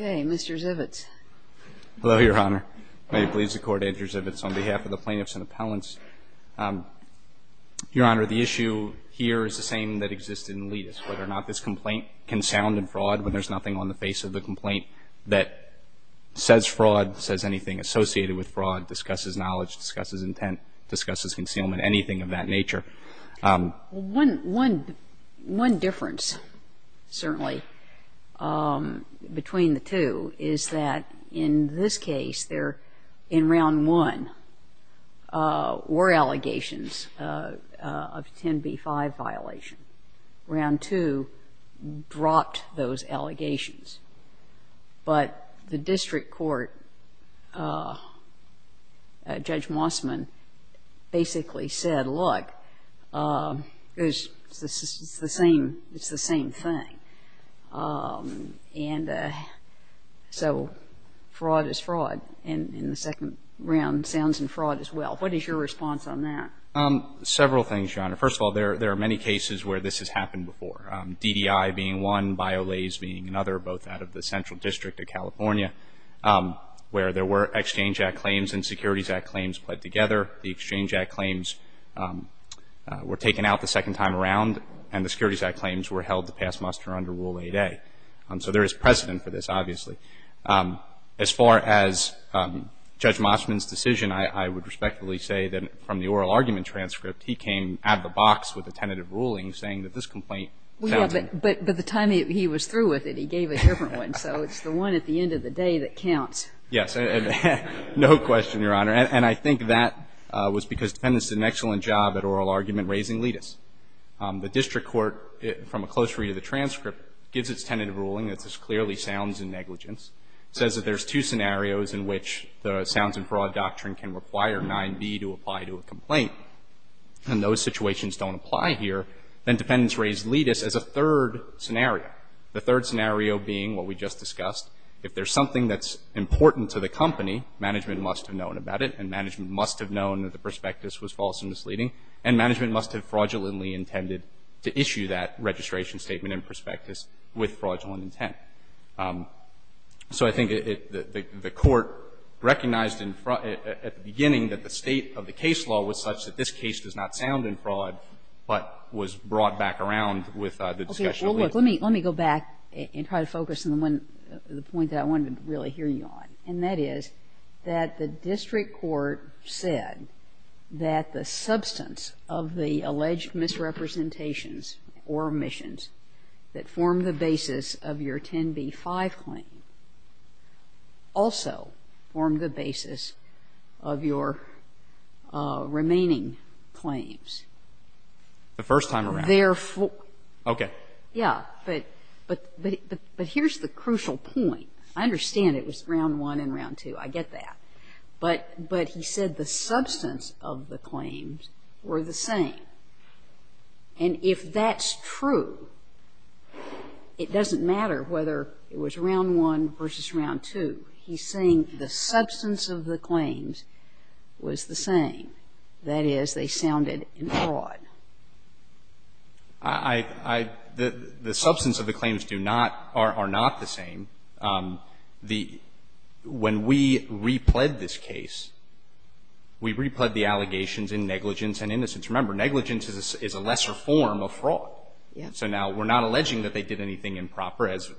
Mr. Zivitz. Hello, Your Honor. May it please the Court, Andrew Zivitz, on behalf of the Plaintiffs and Appellants. Your Honor, the issue here is the same that exists in Ledis, whether or not this complaint can sound in fraud when there's nothing on the face of the complaint that says fraud, says anything associated with fraud, discusses knowledge, discusses intent, discusses concealment, anything of that nature. Well, one difference, certainly, between the two is that in this case there, in Round 1, were allegations of 10b-5 violation. Round 2 dropped those allegations. But the district court of California, Judge Mossman, basically said, look, it's the same thing. And so fraud is fraud. And in the second round, sounds in fraud as well. What is your response on that? Several things, Your Honor. First of all, there are many cases where this has happened before, DDI being one, Biolase being another, both out of the Central District of California, where there were Exchange Act claims and Securities Act claims put together. The Exchange Act claims were taken out the second time around, and the Securities Act claims were held to pass muster under Rule 8a. So there is precedent for this, obviously. As far as Judge Mossman's decision, I would respectfully say that from the oral argument transcript, he came out of the box with a tentative ruling saying that this complaint sounded in fraud. But the time he was through with it, he gave a different one. So it's the one at the end of the day that counts. Yes. No question, Your Honor. And I think that was because defendants did an excellent job at oral argument raising letus. The district court, from a close read of the transcript, gives its tentative ruling that this clearly sounds in negligence, says that there are two scenarios in which the sounds-in-fraud doctrine can require 9b to apply to a complaint. And those situations don't apply here. Then defendants raise letus as a third scenario, the third scenario being what we just discussed. If there's something that's important to the company, management must have known about it, and management must have known that the prospectus was false and misleading, and management must have fraudulently intended to issue that registration statement and prospectus with fraudulent intent. So I think it the court recognized in front at the beginning that the state of the case law was such that this case does not sound in fraud, but was brought back around with the discussion of letus. And I'm going to go back and try to focus on the one, the point that I want to really hear you on, and that is that the district court said that the substance of the alleged misrepresentations or omissions that form the basis of your 10b-5 claim also form the basis of your remaining claims. The first time around. Therefore the first time around. Okay. Yeah. But here's the crucial point. I understand it was round one and round two. I get that. But he said the substance of the claims were the same. And if that's true, it doesn't matter whether it was round one versus round two. He's saying the substance of the claims was the same. That is, they sounded in fraud. I, I, the substance of the claims do not, are not the same. The, when we repled this case, we repled the allegations in negligence and innocence. Remember, negligence is a lesser form of fraud. Yes. So now we're not alleging that they did anything improper as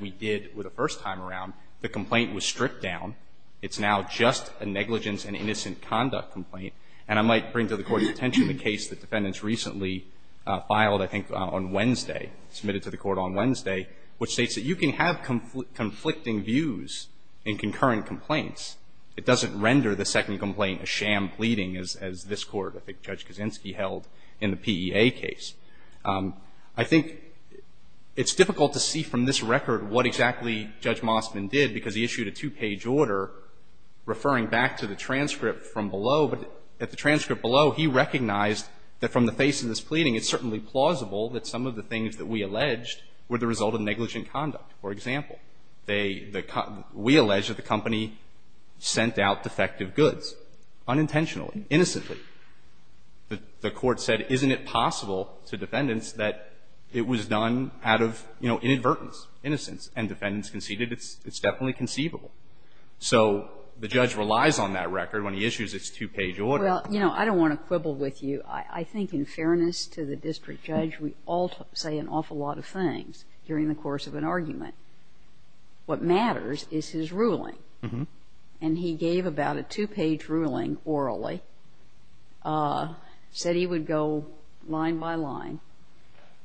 we did the first time around. The complaint was stripped down. It's now just a negligence and innocent conduct complaint. And I might bring to the Court's attention the case that defendants recently filed, I think, on Wednesday, submitted to the Court on Wednesday, which states that you can have conflicting views in concurrent complaints. It doesn't render the second complaint a sham pleading as, as this Court, I think Judge Kaczynski held in the PEA case. I think it's difficult to see from this record what exactly Judge Mosman did because he issued a two-page order referring back to the transcript from below. But at the transcript below, he recognized that from the face of this pleading, it's certainly plausible that some of the things that we alleged were the result of negligent conduct. For example, they, the, we alleged that the company sent out defective goods unintentionally, innocently. The, the Court said, isn't it possible to defendants that it was done out of, you know, inadvertence, innocence. And defendants conceded it's, it's definitely conceivable. So the judge relies on that record when he issues its two-page order. Well, you know, I don't want to quibble with you. I, I think in fairness to the district judge, we all say an awful lot of things during the course of an argument. What matters is his ruling. And he gave about a two-page ruling orally, said he would go line by line,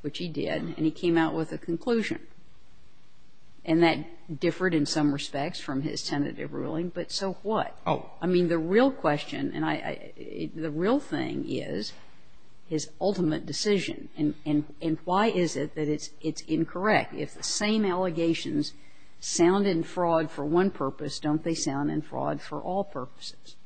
which he did, and he came out with a conclusion. And that differed in some respects from his tentative ruling, but so what? Oh. I mean, the real question, and I, I, the real thing is his ultimate decision. And, and, and why is it that it's, it's incorrect? If the same allegations sound in fraud for one purpose, don't they sound in fraud for all purposes?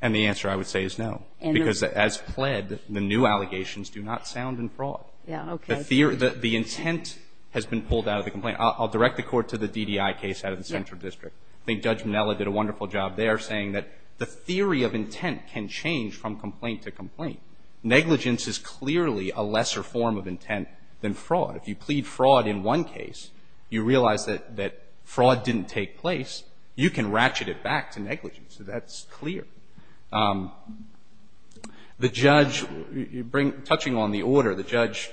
And the answer I would say is no. And the reason is because as pled, the new allegations do not sound in fraud. Yeah, okay. The, the intent has been pulled out of the complaint. I'll, I'll direct the Court to the DDI case out of the Central District. I think Judge Minella did a wonderful job there, saying that the theory of intent can change from complaint to complaint. Negligence is clearly a lesser form of intent than fraud. If you plead fraud in one case, you realize that, that fraud didn't take place. You can ratchet it back to negligence. That's clear. The judge, you, you bring, touching on the order, the judge,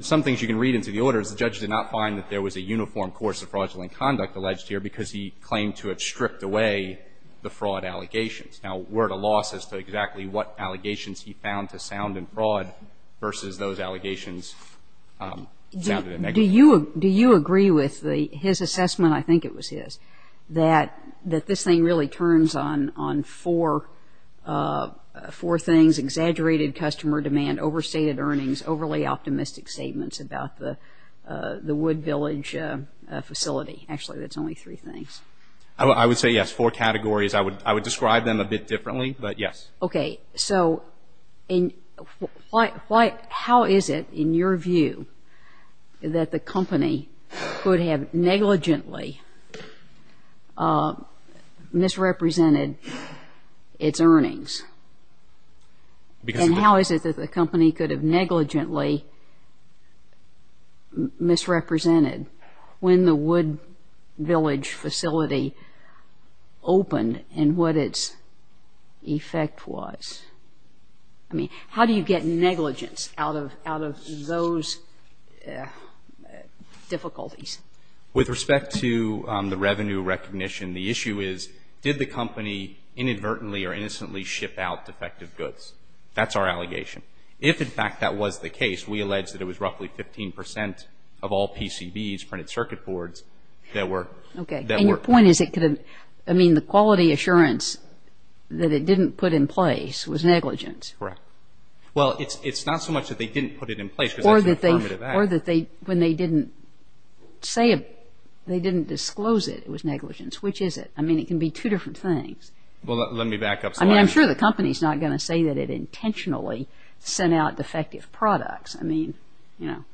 some things you can read into the order is the judge did not find that there was a uniform course of fraudulent conduct alleged here because he claimed to have stripped away the fraud allegations. Now, we're at a loss as to exactly what allegations he found to sound in fraud versus those allegations sounded in negligence. Do you, do you agree with the, his assessment, I think it was his, that, that this thing really turns on, on four, four things, exaggerated customer demand, overstated earnings, overly optimistic statements about the, the Wood Village facility. Actually, that's only three things. I would say yes. Four categories. I would, I would describe them a bit differently, but yes. Okay. So, in, why, why, how is it, in your view, that the company could have negligently misrepresented its earnings? Because. And how is it that the company could have negligently misrepresented when the Wood Village facility opened and what its effect was? I mean, how do you get negligence out of, out of those difficulties? With respect to the revenue recognition, the issue is, did the company inadvertently or innocently ship out defective goods? That's our allegation. If, in fact, that was the case, we allege that it was roughly 15 percent of all PCBs, printed circuit boards, that were, that were. Okay. And your point is it could have, I mean, the quality assurance that it didn't put in place was negligence. Correct. Well, it's, it's not so much that they didn't put it in place, because that's an affirmative act. Or that they, or that they, when they didn't say it, they didn't disclose it, it was negligence. Which is it? I mean, it can be two different things. Well, let, let me back up. I mean, I'm sure the company's not going to say that it intentionally sent out defective products. I mean, you know.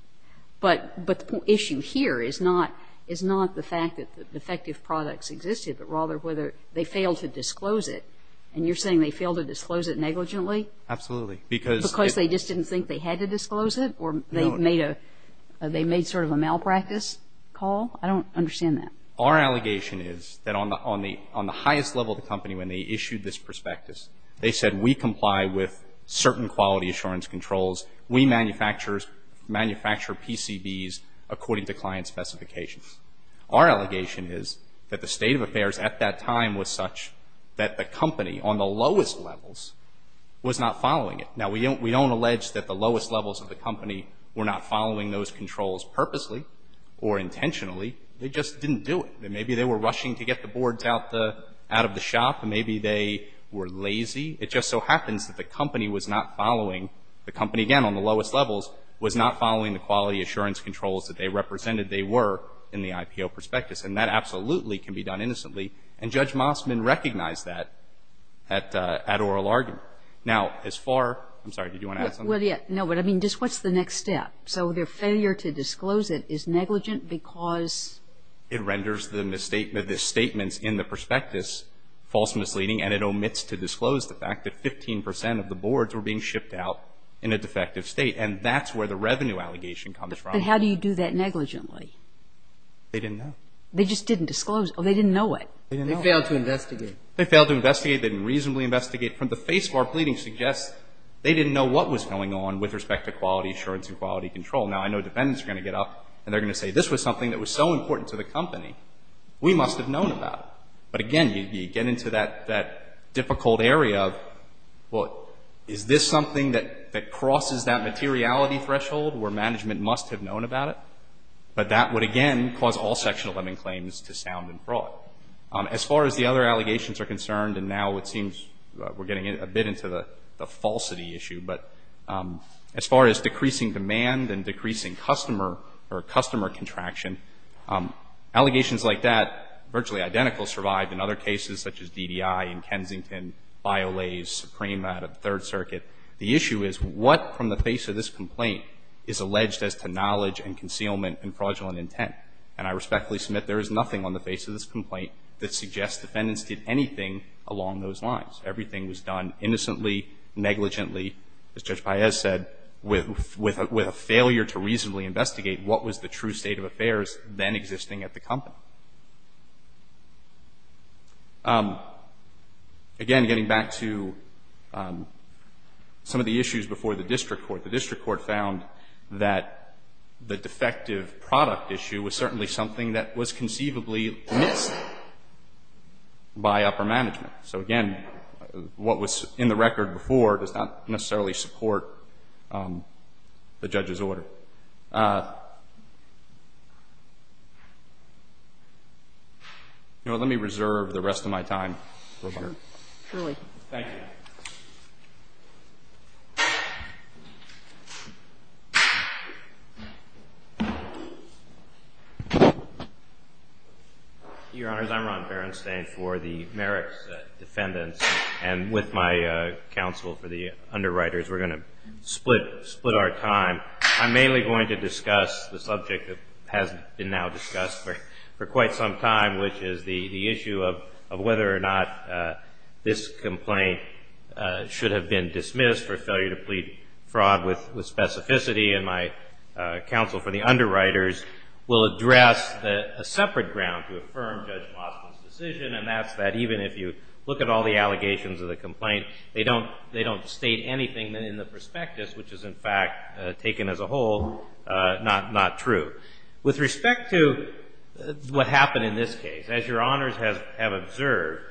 But, but the issue here is not, is not the fact that the defective products existed, but rather whether they failed to disclose it. And you're saying they failed to disclose it negligently? Absolutely. Because. Because they just didn't think they had to disclose it? No. Or they made a, they made sort of a malpractice call? I don't understand that. Our allegation is that on the, on the, on the highest level of the company, when they issued this prospectus, they said, we comply with certain quality assurance controls. We manufacturers, manufacture PCBs according to client specifications. Our allegation is that the state of affairs at that time was such that the company on the lowest levels was not following it. Now, we don't, we don't allege that the lowest levels of the company were not following those controls purposely or intentionally. They just didn't do it. Maybe they were rushing to get the boards out the, out of the shop. Maybe they were lazy. It just so happens that the company was not following, the company, again, on the lowest levels, was not following the quality assurance controls that they represented they were in the IPO prospectus. And that absolutely can be done innocently. And Judge Mossman recognized that at, at oral argument. Now, as far, I'm sorry, did you want to add something? Well, yeah. No, but I mean, just what's the next step? So their failure to disclose it is negligent because? It renders the misstatement, the statements in the prospectus false misleading and it omits to disclose the fact that 15 percent of the boards were being shipped out in a defective state. And that's where the revenue allegation comes from. But how do you do that negligently? They didn't know. They just didn't disclose. Oh, they didn't know it. They didn't know it. They failed to investigate. They failed to investigate. They didn't reasonably investigate. From the face of our pleading suggests they didn't know what was going on with respect to quality assurance and quality control. Now, I know defendants are going to get up and they're going to say, this was something that was so important to the company. We must have known about it. But again, you get into that difficult area of, well, is this something that crosses that materiality threshold where management must have known about it? But that would, again, cause all Section 11 claims to sound and fraud. As far as the other allegations are concerned, and now it seems we're getting a bit into the falsity issue, but as far as decreasing demand and decreasing customer contraction, allegations like that, virtually identical, survive in other cases such as DDI and Kensington, Biolase, Supreme out of Third Circuit. The issue is what from the face of this complaint is alleged as to knowledge and concealment and fraudulent intent? And I respectfully submit there is nothing on the face of this complaint that suggests defendants did anything along those lines. Everything was done innocently, negligently, as Judge Paez said, with a failure to reasonably investigate what was the true state of affairs then existing at the company. Again, getting back to some of the issues before the district court, the district court found that the defective product issue was certainly something that was conceivably missed by upper management. So again, what was in the record before does not necessarily support the judge's order. Let me reserve the rest of my time. Thank you. Your Honors, I'm Ron Berenstain for the Merrick's defendants and with my counsel for the underwriters. We're going to split our time. I'm mainly going to discuss the subject that has been now discussed for quite some time, which is the issue of whether or not this complaint should have been dismissed for failure to plead fraud with specificity. And my counsel for the underwriters will address a separate ground to affirm Judge Boston's decision, and that's that even if you look at all the allegations of the complaint, they don't state anything in the prospectus, which is in fact taken as a whole not true. With respect to what happened in this case, as Your Honors have observed,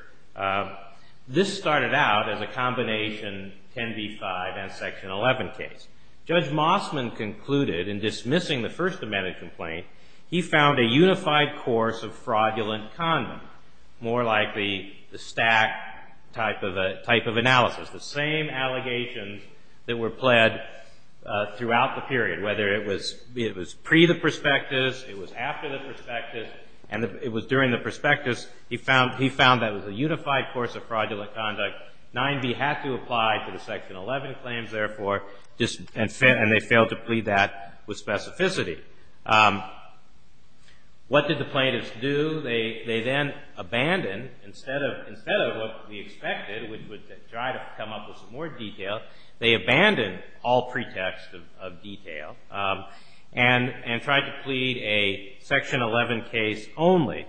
this started out as a combination 10b-5 and Section 11 case. Judge Mossman concluded in dismissing the First Amendment complaint, he found a unified course of fraudulent condom, more like the stack type of analysis, the same allegations that were pled throughout the period, whether it was pre the prospectus, it was after the prospectus, and it was during the prospectus, he found that it was a unified course of fraudulent conduct. 9b had to apply to the Section 11 claims, therefore, and they failed to plead that with specificity. What did the plaintiffs do? They then abandoned, instead of what we expected, we would try to come up with some more detail. They abandoned all pretext of detail and tried to plead a Section 11 case only.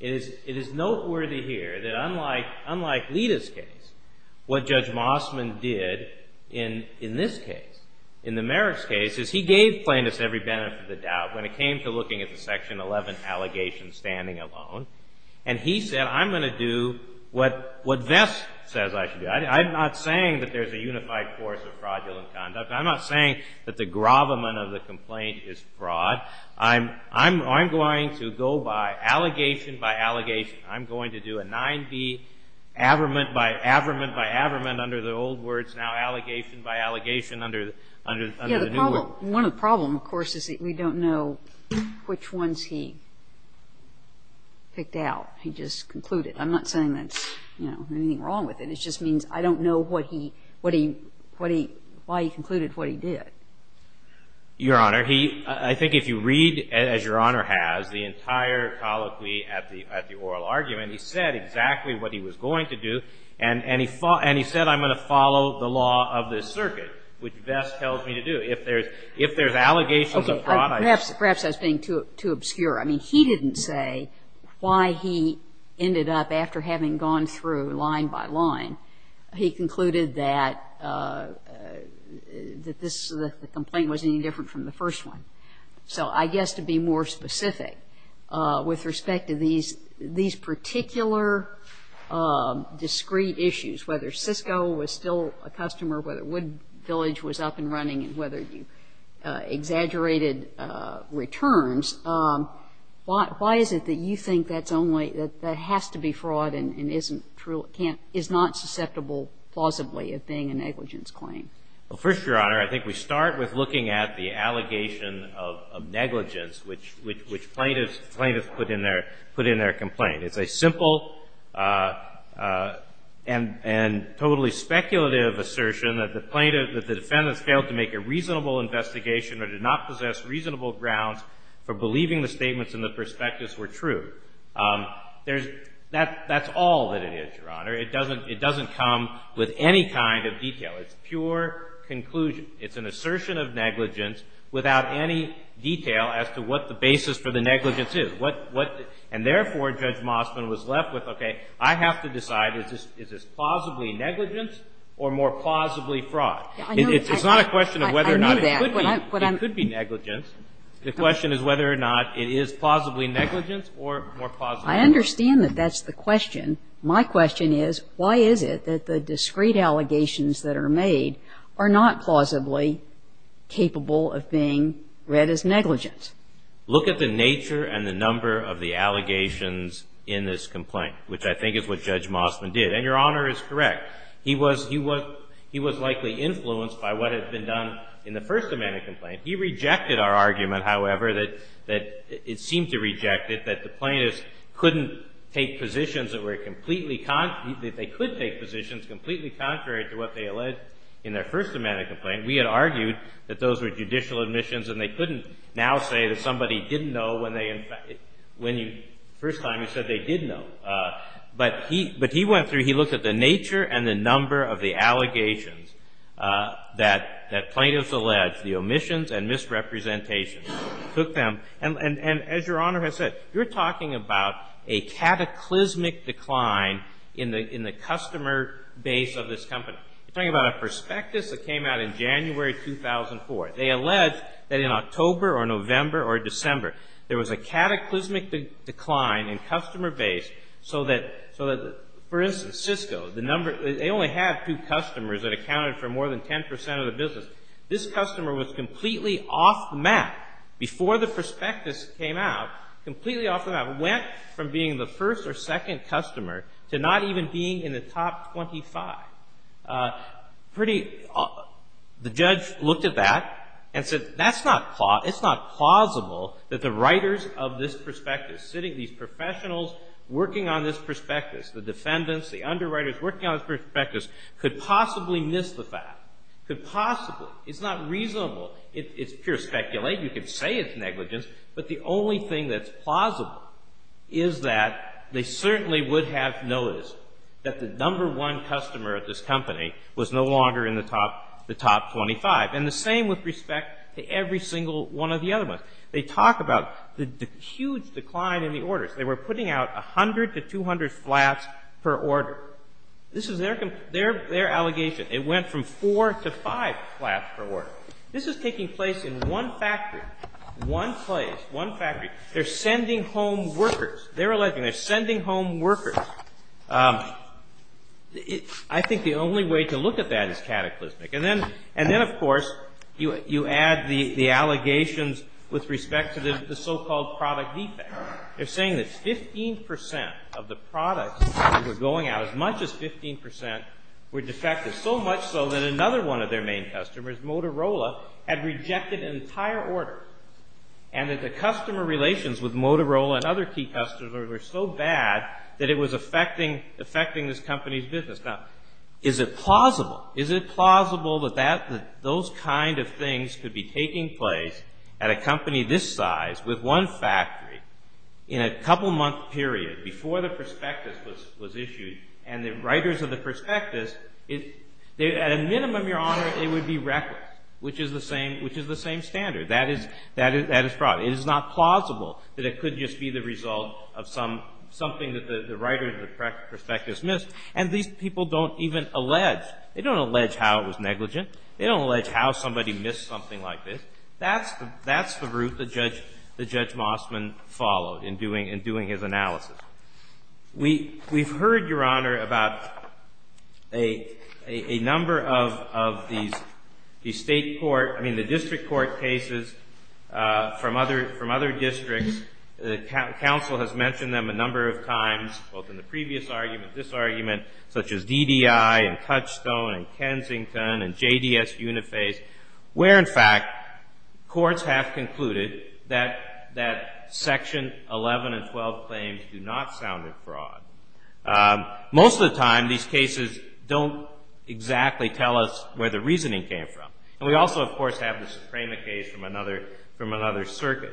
It is noteworthy here that unlike Lita's case, what Judge Mossman did in this case, in the Merrick's case, is he gave plaintiffs every benefit of the doubt when it came to looking at the Section 11 allegation standing alone, and he said, I'm going to do what Vest says I should do. I'm not saying that there's a unified course of fraudulent conduct. I'm not saying that the gravamen of the complaint is fraud. I'm going to go by allegation by allegation. I'm going to do a 9b, abramant by abramant by abramant under the old words, now allegation by allegation under the new words. One problem, of course, is that we don't know which ones he picked out. He just concluded. I'm not saying there's anything wrong with it. It just means I don't know what he, why he concluded what he did. Your Honor, I think if you read, as Your Honor has, the entire colloquy at the oral argument, he said exactly what he was going to do, and he said, I'm going to follow the law of this circuit, which Vest tells me to do. If there's allegations of fraud, I... Perhaps I was being too obscure. I mean, he didn't say why he ended up, after having gone through line by line, he concluded that this, that the complaint wasn't any different from the first one. So I guess to be more specific, with respect to these particular discrete issues, whether Cisco was still a customer, whether Wood Village was up and running, and whether you exaggerated returns, why is it that you think that's only, that there has to be fraud and isn't true, can't, is not susceptible plausibly of being a negligence claim? Well, first, Your Honor, I think we start with looking at the allegation of negligence, which plaintiffs put in their complaint. It's a simple and totally speculative assertion that the plaintiff, that the defendants failed to make a reasonable investigation or did not possess reasonable grounds for believing the statements in the prospectus were true. That's all that it is, Your Honor. It doesn't come with any kind of detail. It's pure conclusion. It's an assertion of negligence without any detail as to what the basis for the negligence is. And therefore, Judge Mosman was left with, okay, I have to decide, is this plausibly negligence or more plausibly fraud? It's not a question of whether or not it could be. It could be negligence. The question is whether or not it is plausibly negligence or more plausibly fraud. I understand that that's the question. My question is, why is it that the discrete allegations that are made are not plausibly capable of being read as negligence? Look at the nature and the number of the allegations in this complaint, which I think is what Judge Mosman did. And Your Honor is correct. He was likely influenced by what had been done in the first amendment complaint. He rejected our argument, however, that it seemed to reject it, that the plaintiffs couldn't take positions that were completely, that they could take positions completely contrary to what they alleged in their first amendment complaint. We had argued that those were judicial admissions and they couldn't now say that somebody didn't know when they, the first time he said they did know. But he went through, he looked at the nature and the number of the allegations that plaintiffs alleged, the omissions and misrepresentations, took them, and as Your Honor has said, you're talking about a cataclysmic decline in the customer base of this company. You're talking about a prospectus that came out in January 2004. They alleged that in October or November or December there was a cataclysmic decline in customer base so that, for instance, Cisco, the number, they only had two customers that accounted for more than 10% of the business. This customer was completely off the map before the prospectus came out, completely off the map, went from being the first or second customer to not even being in the top 25. Pretty, the judge looked at that and said, that's not, it's not plausible that the writers of this prospectus, sitting, these professionals working on this prospectus, the defendants, the underwriters working on this prospectus, could possibly miss the fact, could possibly. It's not reasonable. It's pure speculation. You can say it's negligence, but the only thing that's plausible is that they certainly would have noticed that the number one customer of this company was no longer in the top 25. And the same with respect to every single one of the other ones. They talk about the huge decline in the orders. They were putting out 100 to 200 flats per order. This is their allegation. It went from 4 to 5 flats per order. This is taking place in one factory, one place, one factory. They're sending home workers. They're alleging they're sending home workers. I think the only way to look at that is cataclysmic. And then, of course, you add the allegations with respect to the so-called product defect. They're saying that 15% of the products that were going out, as much as 15%, were defective, so much so that another one of their main customers, Motorola, had rejected an entire order. And that the customer relations with Motorola and other key customers were so bad that it was affecting this company's business. Now, is it plausible? Is it plausible that those kind of things could be taking place at a company this size with one factory in a couple-month period before the prospectus was issued, and the writers of the prospectus, at a minimum, Your Honor, it would be reckless, which is the same standard. That is fraud. It is not plausible that it could just be the result of something that the writers of the prospectus missed. And these people don't even allege. They don't allege how it was negligent. They don't allege how somebody missed something like this. That's the route that Judge Mossman followed in doing his analysis. We've heard, Your Honor, about a number of these state court, I mean, the district court cases from other districts. The counsel has mentioned them a number of times, both in the previous argument, this argument, such as DDI and Touchstone and Kensington and JDS Uniface, where, in fact, courts have concluded that Section 11 and 12 claims do not sound like fraud. Most of the time, these cases don't exactly tell us where the reasoning came from. And we also, of course, have the Suprema case from another circuit.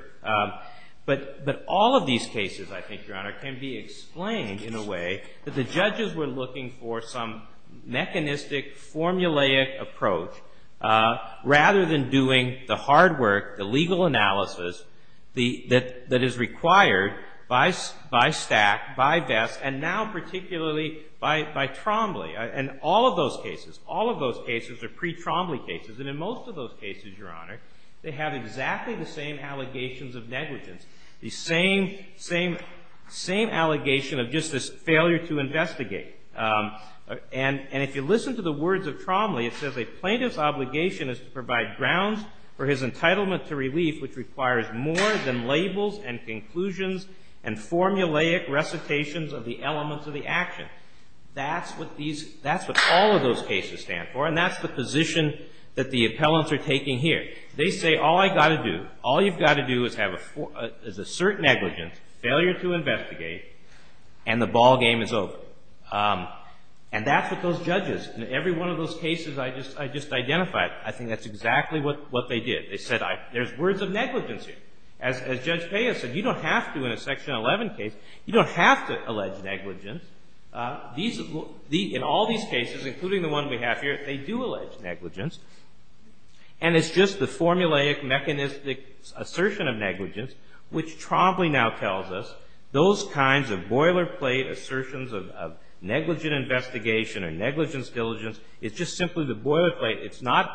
But all of these cases, I think, Your Honor, can be explained in a way that the judges were looking for some mechanistic, formulaic approach rather than doing the hard work, the legal analysis that is required by Stack, by Vest, and now particularly by Trombley. And all of those cases, all of those cases are pre-Trombley cases. And in most of those cases, Your Honor, they have exactly the same allegations of negligence, the same allegation of just this failure to investigate. And if you listen to the words of Trombley, it says, a plaintiff's obligation is to provide grounds for his entitlement to relief which requires more than labels and conclusions and formulaic recitations of the elements of the action. That's what all of those cases stand for, and that's the position that the appellants are taking here. They say, all I've got to do, all you've got to do is assert negligence, failure to investigate, and the ballgame is over. And that's what those judges, in every one of those cases I just identified, I think that's exactly what they did. They said, there's words of negligence here. As Judge Peya said, you don't have to in a Section 11 case, you don't have to allege negligence. In all these cases, including the one we have here, they do allege negligence. And it's just the formulaic, mechanistic assertion of negligence which Trombley now tells us those kinds of boilerplate assertions of negligent investigation or negligence diligence. It's just simply the boilerplate. It's not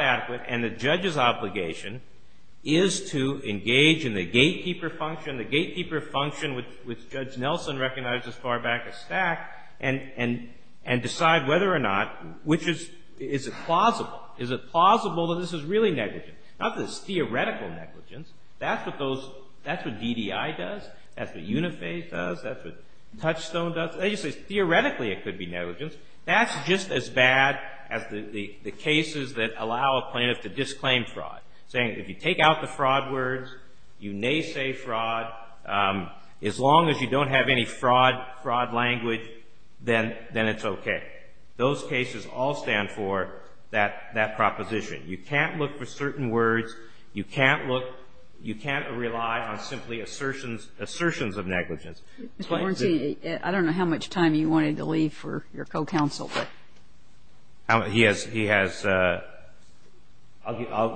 adequate, and the judge's obligation is to engage in the gatekeeper function, the gatekeeper function which Judge Nelson recognized as far back as Stack, and decide whether or not, which is, is it plausible? Is it plausible that this is really negligent? Not that it's theoretical negligence. That's what those, that's what DDI does, that's what UNIFA does, that's what Touchstone does. They just say theoretically it could be negligence. That's just as bad as the cases that allow a plaintiff to disclaim fraud. Saying if you take out the fraud words, you may say fraud, as long as you don't have any fraud, fraud language, then it's okay. Those cases all stand for that proposition. You can't look for certain words, you can't look, you can't rely on simply assertions of negligence. Mr. Horncy, I don't know how much time you wanted to leave for your co-counsel, but... He has, he has, I'll,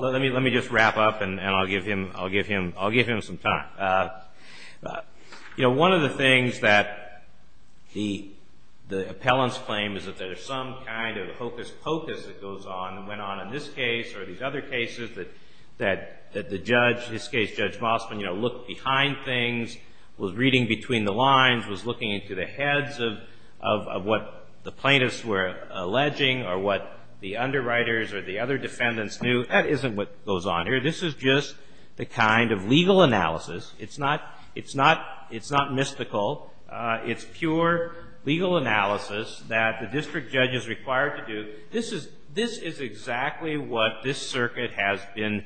let me, let me just wrap up and I'll give him, I'll give him, I'll give him some time. You know, one of the things that the, the appellant's claim is that there's some kind of hocus pocus that goes on and went on in this case or these other cases that, that the judge, in this case Judge Mossman, you know, looked behind things, was reading between the lines, was looking into the heads of, of, of what the plaintiffs were alleging or what the underwriters or the other defendants knew. That isn't what goes on here. This is just the kind of legal analysis. It's not, it's not, it's not mystical. It's pure legal analysis that the district judge is required to do. This is, this is exactly what this circuit has been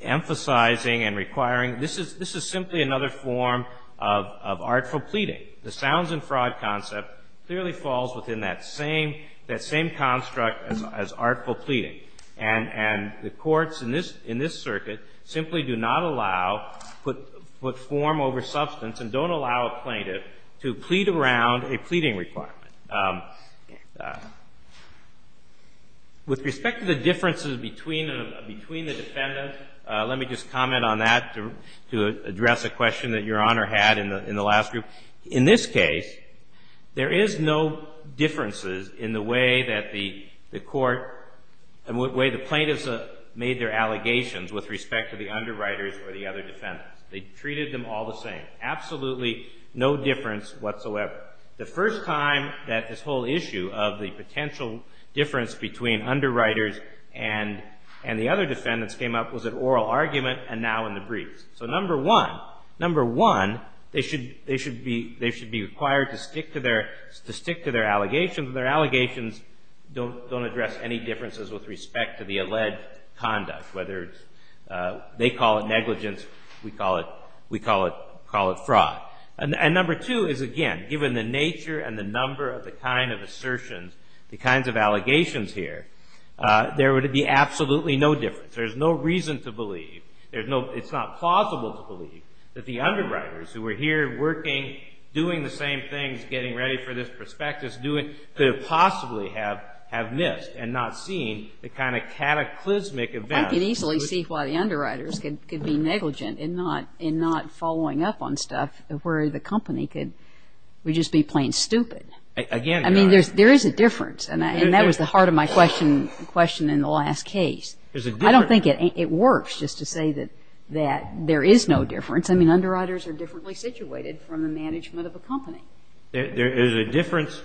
emphasizing and requiring. This is, this is simply another form of, of artful pleading. The sounds and fraud concept clearly falls within that same, that same construct as, as artful pleading and, and the courts in this, in this circuit simply do not allow put, put form over substance and don't allow a plaintiff to plead around a pleading requirement. With respect to the differences between, between the defendant, let me just comment on that to, to, to address a question that Your Honor had in the, in the last group. In this case, there is no differences in the way that the, the court and what way the plaintiffs made their allegations with respect to the underwriters or the other defendants. They treated them all the same. Absolutely no difference whatsoever. The first time that this whole issue of the potential difference between underwriters and, and the other defendants came up was an oral argument and now in the briefs. So number one, number one, they should, they should be, they should be required to stick to their, to stick to their allegations and their allegations don't, don't address any differences with respect to the alleged conduct whether it's, they call it negligence, we call it, we call it, call it fraud. And, and number two is again, given the nature and the number of the kind of assertions, the kinds of allegations here, there would be absolutely no difference. There's no reason to believe, there's no, it's not plausible to believe that the underwriters who were here working, doing the same things, getting ready for this prospectus, doing, could have possibly have, have missed and not seen the kind of cataclysmic events. I could easily see why the underwriters could, could be negligent in not, in not following up on stuff where the company could, would just be plain stupid. I mean, there's, there is a difference and that was the heart of my question, question in the last case. I don't think it works just to say that, that there is no difference. I mean, underwriters are differently situated from the management of a company. There, it would be a, a difference.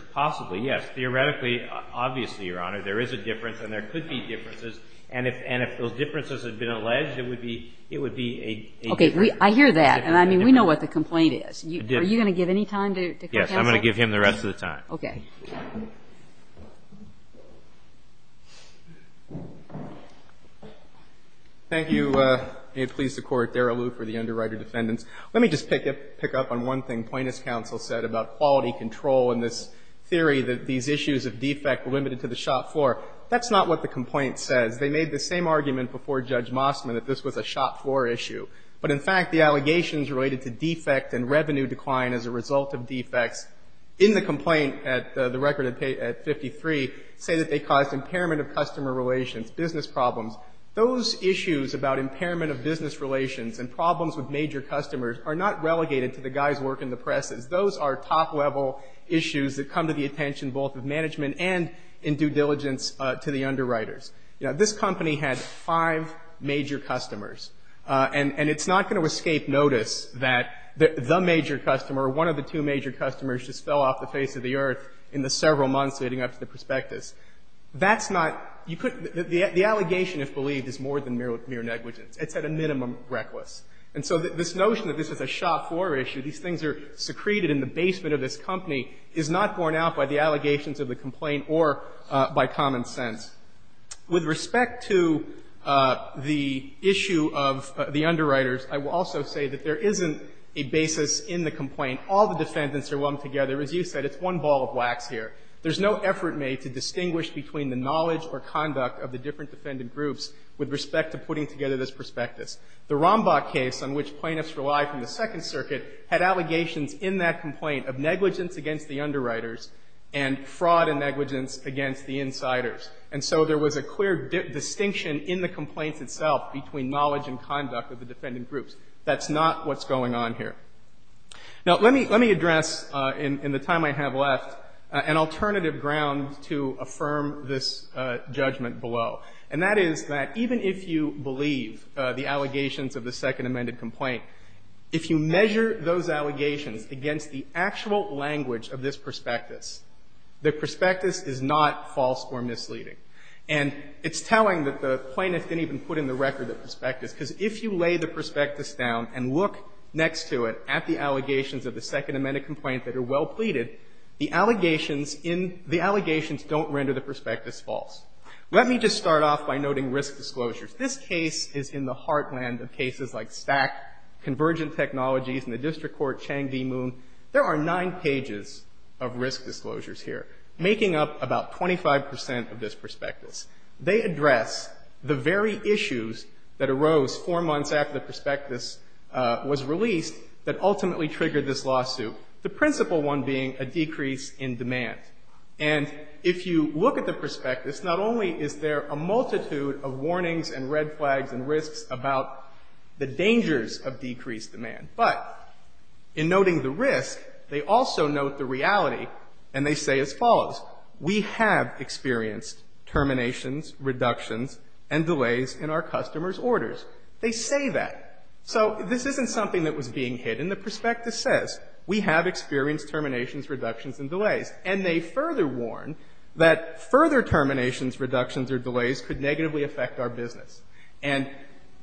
Okay, I hear that and I mean, we know what the complaint is. Yes. Are you going to give any time to, to counsel? Yes, I'm going to give him the rest of the time. Okay. Thank you. May it please the Court, Daryl Liu for the underwriter defendants. Let me just pick up, pick up on one thing that there is a defect limited to the shop floor. That's not what the complaint says. They made the same argument before Judge Mossman that this was a shop floor issue. But in fact, the allegations related to defect and revenue decline as a result of defects in the complaint at the shop floor. The problems with major customers are not relegated to the guy's work in the presses. Those are top level issues that come to the attention both of management and in due diligence to the underwriters. This company had five major and so this notion that this is a shop floor issue these things are secreted in the basement of this company is not borne out by the allegations of the complaint or by common sense. With respect to the issue of the underwriters I will also say that there isn't a basis in the complaint. All the defendants are lumped together. As you said it's one ball of wax here. There's no effort made to distinguish between the knowledge and conduct of the defendant groups. That's not what's going on here. Now let me address in the time I have left an alternative ground to affirm this judgment below. And that is that even if you believe the allegations of the second amended complaint if you measure those allegations against the actual language of this prospectus the prospectus is not false or misleading. And it's telling that the plaintiff didn't even put in four months after the prospectus false. Let me just start off by noting risk disclosures. This case is in the heartland of cases like Stack Convergent Technologies and the District Court Chang D. Moon. There are when you look at the prospectus not only is there a multitude of warnings and red flags and risks about the dangers of decreased demand but in noting the risk they also note the reality and they say as follows we have experienced terminations reductions and delays in our customers orders. They say that. So this isn't something that was being hidden. The prospectus says we have experienced terminations reductions and delays and they further warn that further terminations reductions or delays could negatively affect our business. And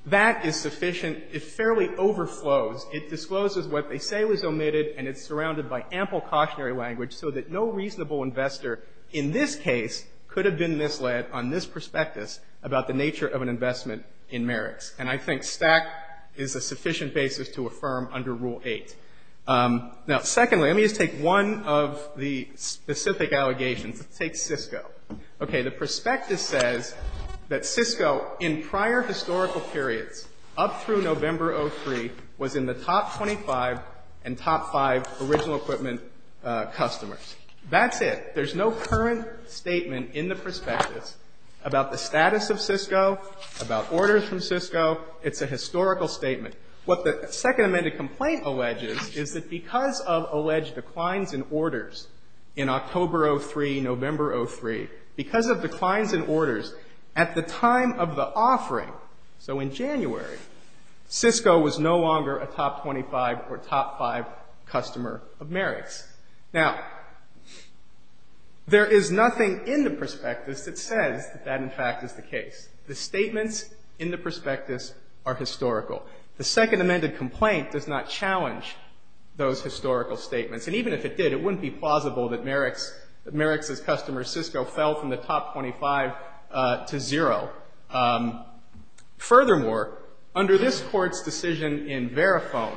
that is sufficient it fairly overflows. It discloses what they say was omitted and it's surrounded by ample cautionary language so that no reasonable investor in this case could have been misled on this prospectus about the nature of an investment in Merrick's. And I think STAC is a sufficient basis to affirm under Rule 8. Now secondly let me just take one of the specific allegations. Let's take Cisco. Okay the prospectus says that Cisco in prior historical periods up through November 03 was in the top 25 and top 5 original equipment customers. That's it. There's no current statement in the prospectus about the status of Cisco about orders from Cisco. It's a historical statement. What the second amended complaint alleges is that because of alleged declines in orders in October 03, November 03 because of declines in orders at the time of the offering so in January Cisco was no longer a top 25 or top 5 customer of Merrick's. Now there is nothing in the prospectus that says that in fact is the case. The Merrick's as customer Cisco fell from the top 25 to zero. Furthermore under this court's decision in Verifone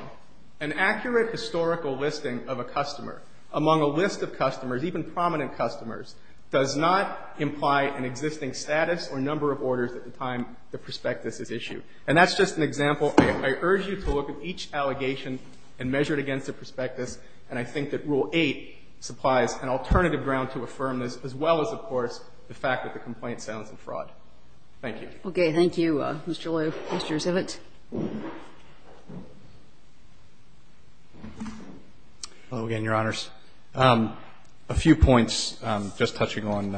an accurate historical listing of a customer among a list of customers even prominent customers does not imply an existing status or number of orders at the time the prospectus is issued. And that's just an example. I urge you to look at each allegation and measure it against the prospectus and I think that rule 8 supplies an alternative ground to affirm this as well as of course the fact that the complaint sounds like fraud. Thank you. Okay. Thank you Mr. Liu. Mr. Zivitz. Hello again Your Honors. A few points just touching on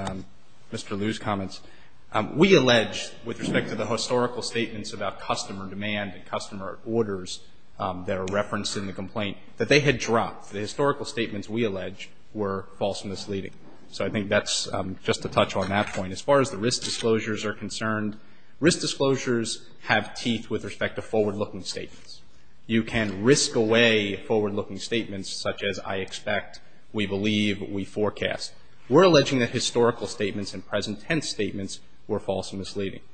Mr. Liu's comments. We allege with respect to the historical statements about customer demand and customer orders that are referenced in the complaint that they had dropped. The historical statements we allege were false and misleading. So I think that's just a touch on that point. As far as the risk disclosures are concerned risk disclosures have teeth with respect to forward looking statements. You can risk away forward looking statements such as I expect we believe we forecast. We're alleging that historical statements and present tense statements were strictly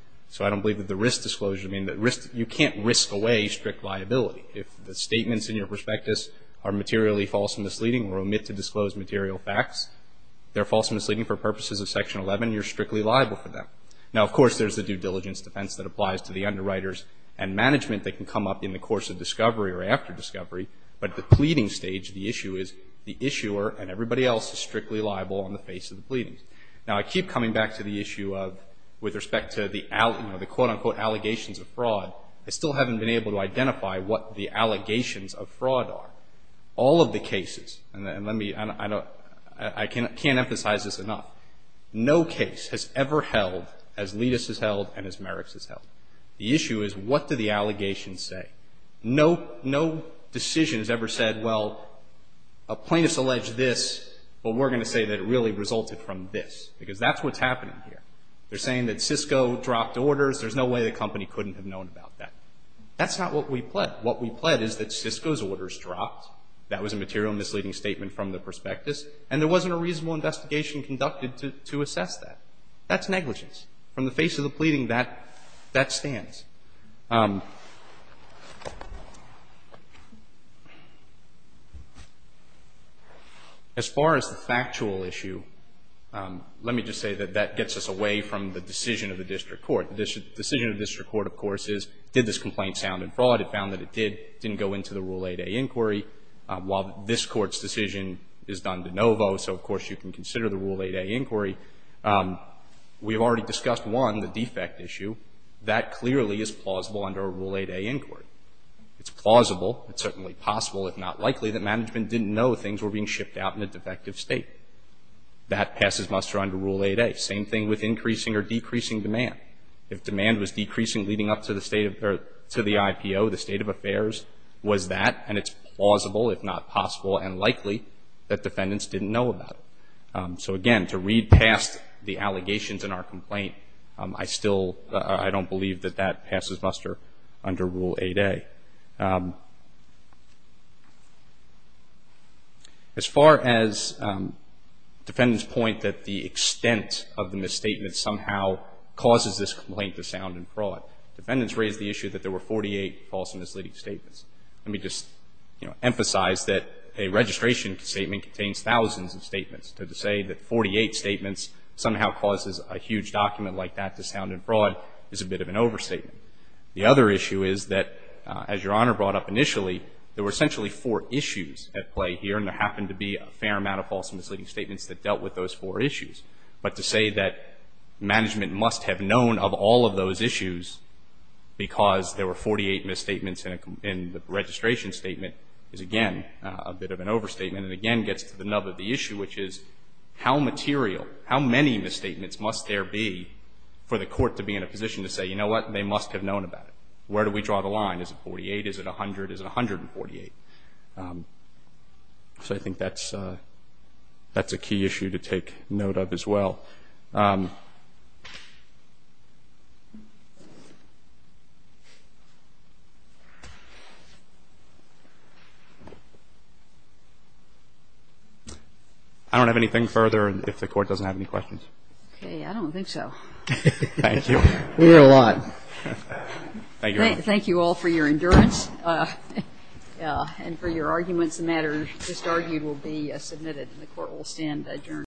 liable. If the statements in your prospectus are materially false and misleading or omit to disclose material facts they're false and misleading for purposes of section 11 you're strictly liable for them. Now of course there's a due diligence defense that applies to the underwriters and management that can come up in the course of discovery or after discovery but the pleading stage the issue is the issuer and everybody else is strictly liable in the face of allegations of fraud. Now I keep coming back to the issue of with respect to the allegations of fraud I still haven't been able to identify what the allegations of fraud are. All of the allegations of fraud have been assaulted from this because that's what's happening here. They're saying that Cisco dropped orders. There's no way the company couldn't have known about that. That's not what we know that Cisco dropped orders. That was a material misleading statement from the prospectus and there wasn't a reasonable investigation conducted to assess that. That's negligence. From the face of the pleading that stands. As far as the rule 8A inquiry, while this court's decision is done de novo, so of course you can consider the 8A inquiry, we've already discussed one, the defect issue. That clearly is plausible under a rule 8A inquiry. It's plausible, it's certainly possible, if not likely, that management didn't know things were being shipped out in a defective state. That passes muster under rule 8A. Same thing with increasing or decreasing demand. If demand was decreasing leading up to the IPO, the state of affairs, was that, and it's plausible, if not possible, and likely, that defendants didn't know about it. So, again, to read past the allegations in our complaint, I still don't believe that that passes muster under rule 8A. As far as defendants point that the extent of the misstatements somehow causes this complaint to sound in fraud, defendants raised the issue that there were 48 false misleading statements. Let me just emphasize that a registration statement contains thousands of statements. So to say that 48 statements somehow causes a huge document like that to sound in fraud is a bit of an overstatement. The other issue is that, as Your Honor brought up initially, there were essentially four issues at play here, and there is a The misstatement is, again, a bit of an overstatement and again gets to the nub of the issue, which is how material, how many misstatements must there be for the court to be in a position to say, you know what, they must have known about it. Where do we draw the line? Is it 48? Is it 100? Is it 148? So I think that's a key issue to take note of as well. I don't have anything further if the court doesn't have any questions. Okay. I don't think so. We hear a lot. Thank you all for your and for your arguments. The matter just argued will be submitted and the court will stand adjourned. �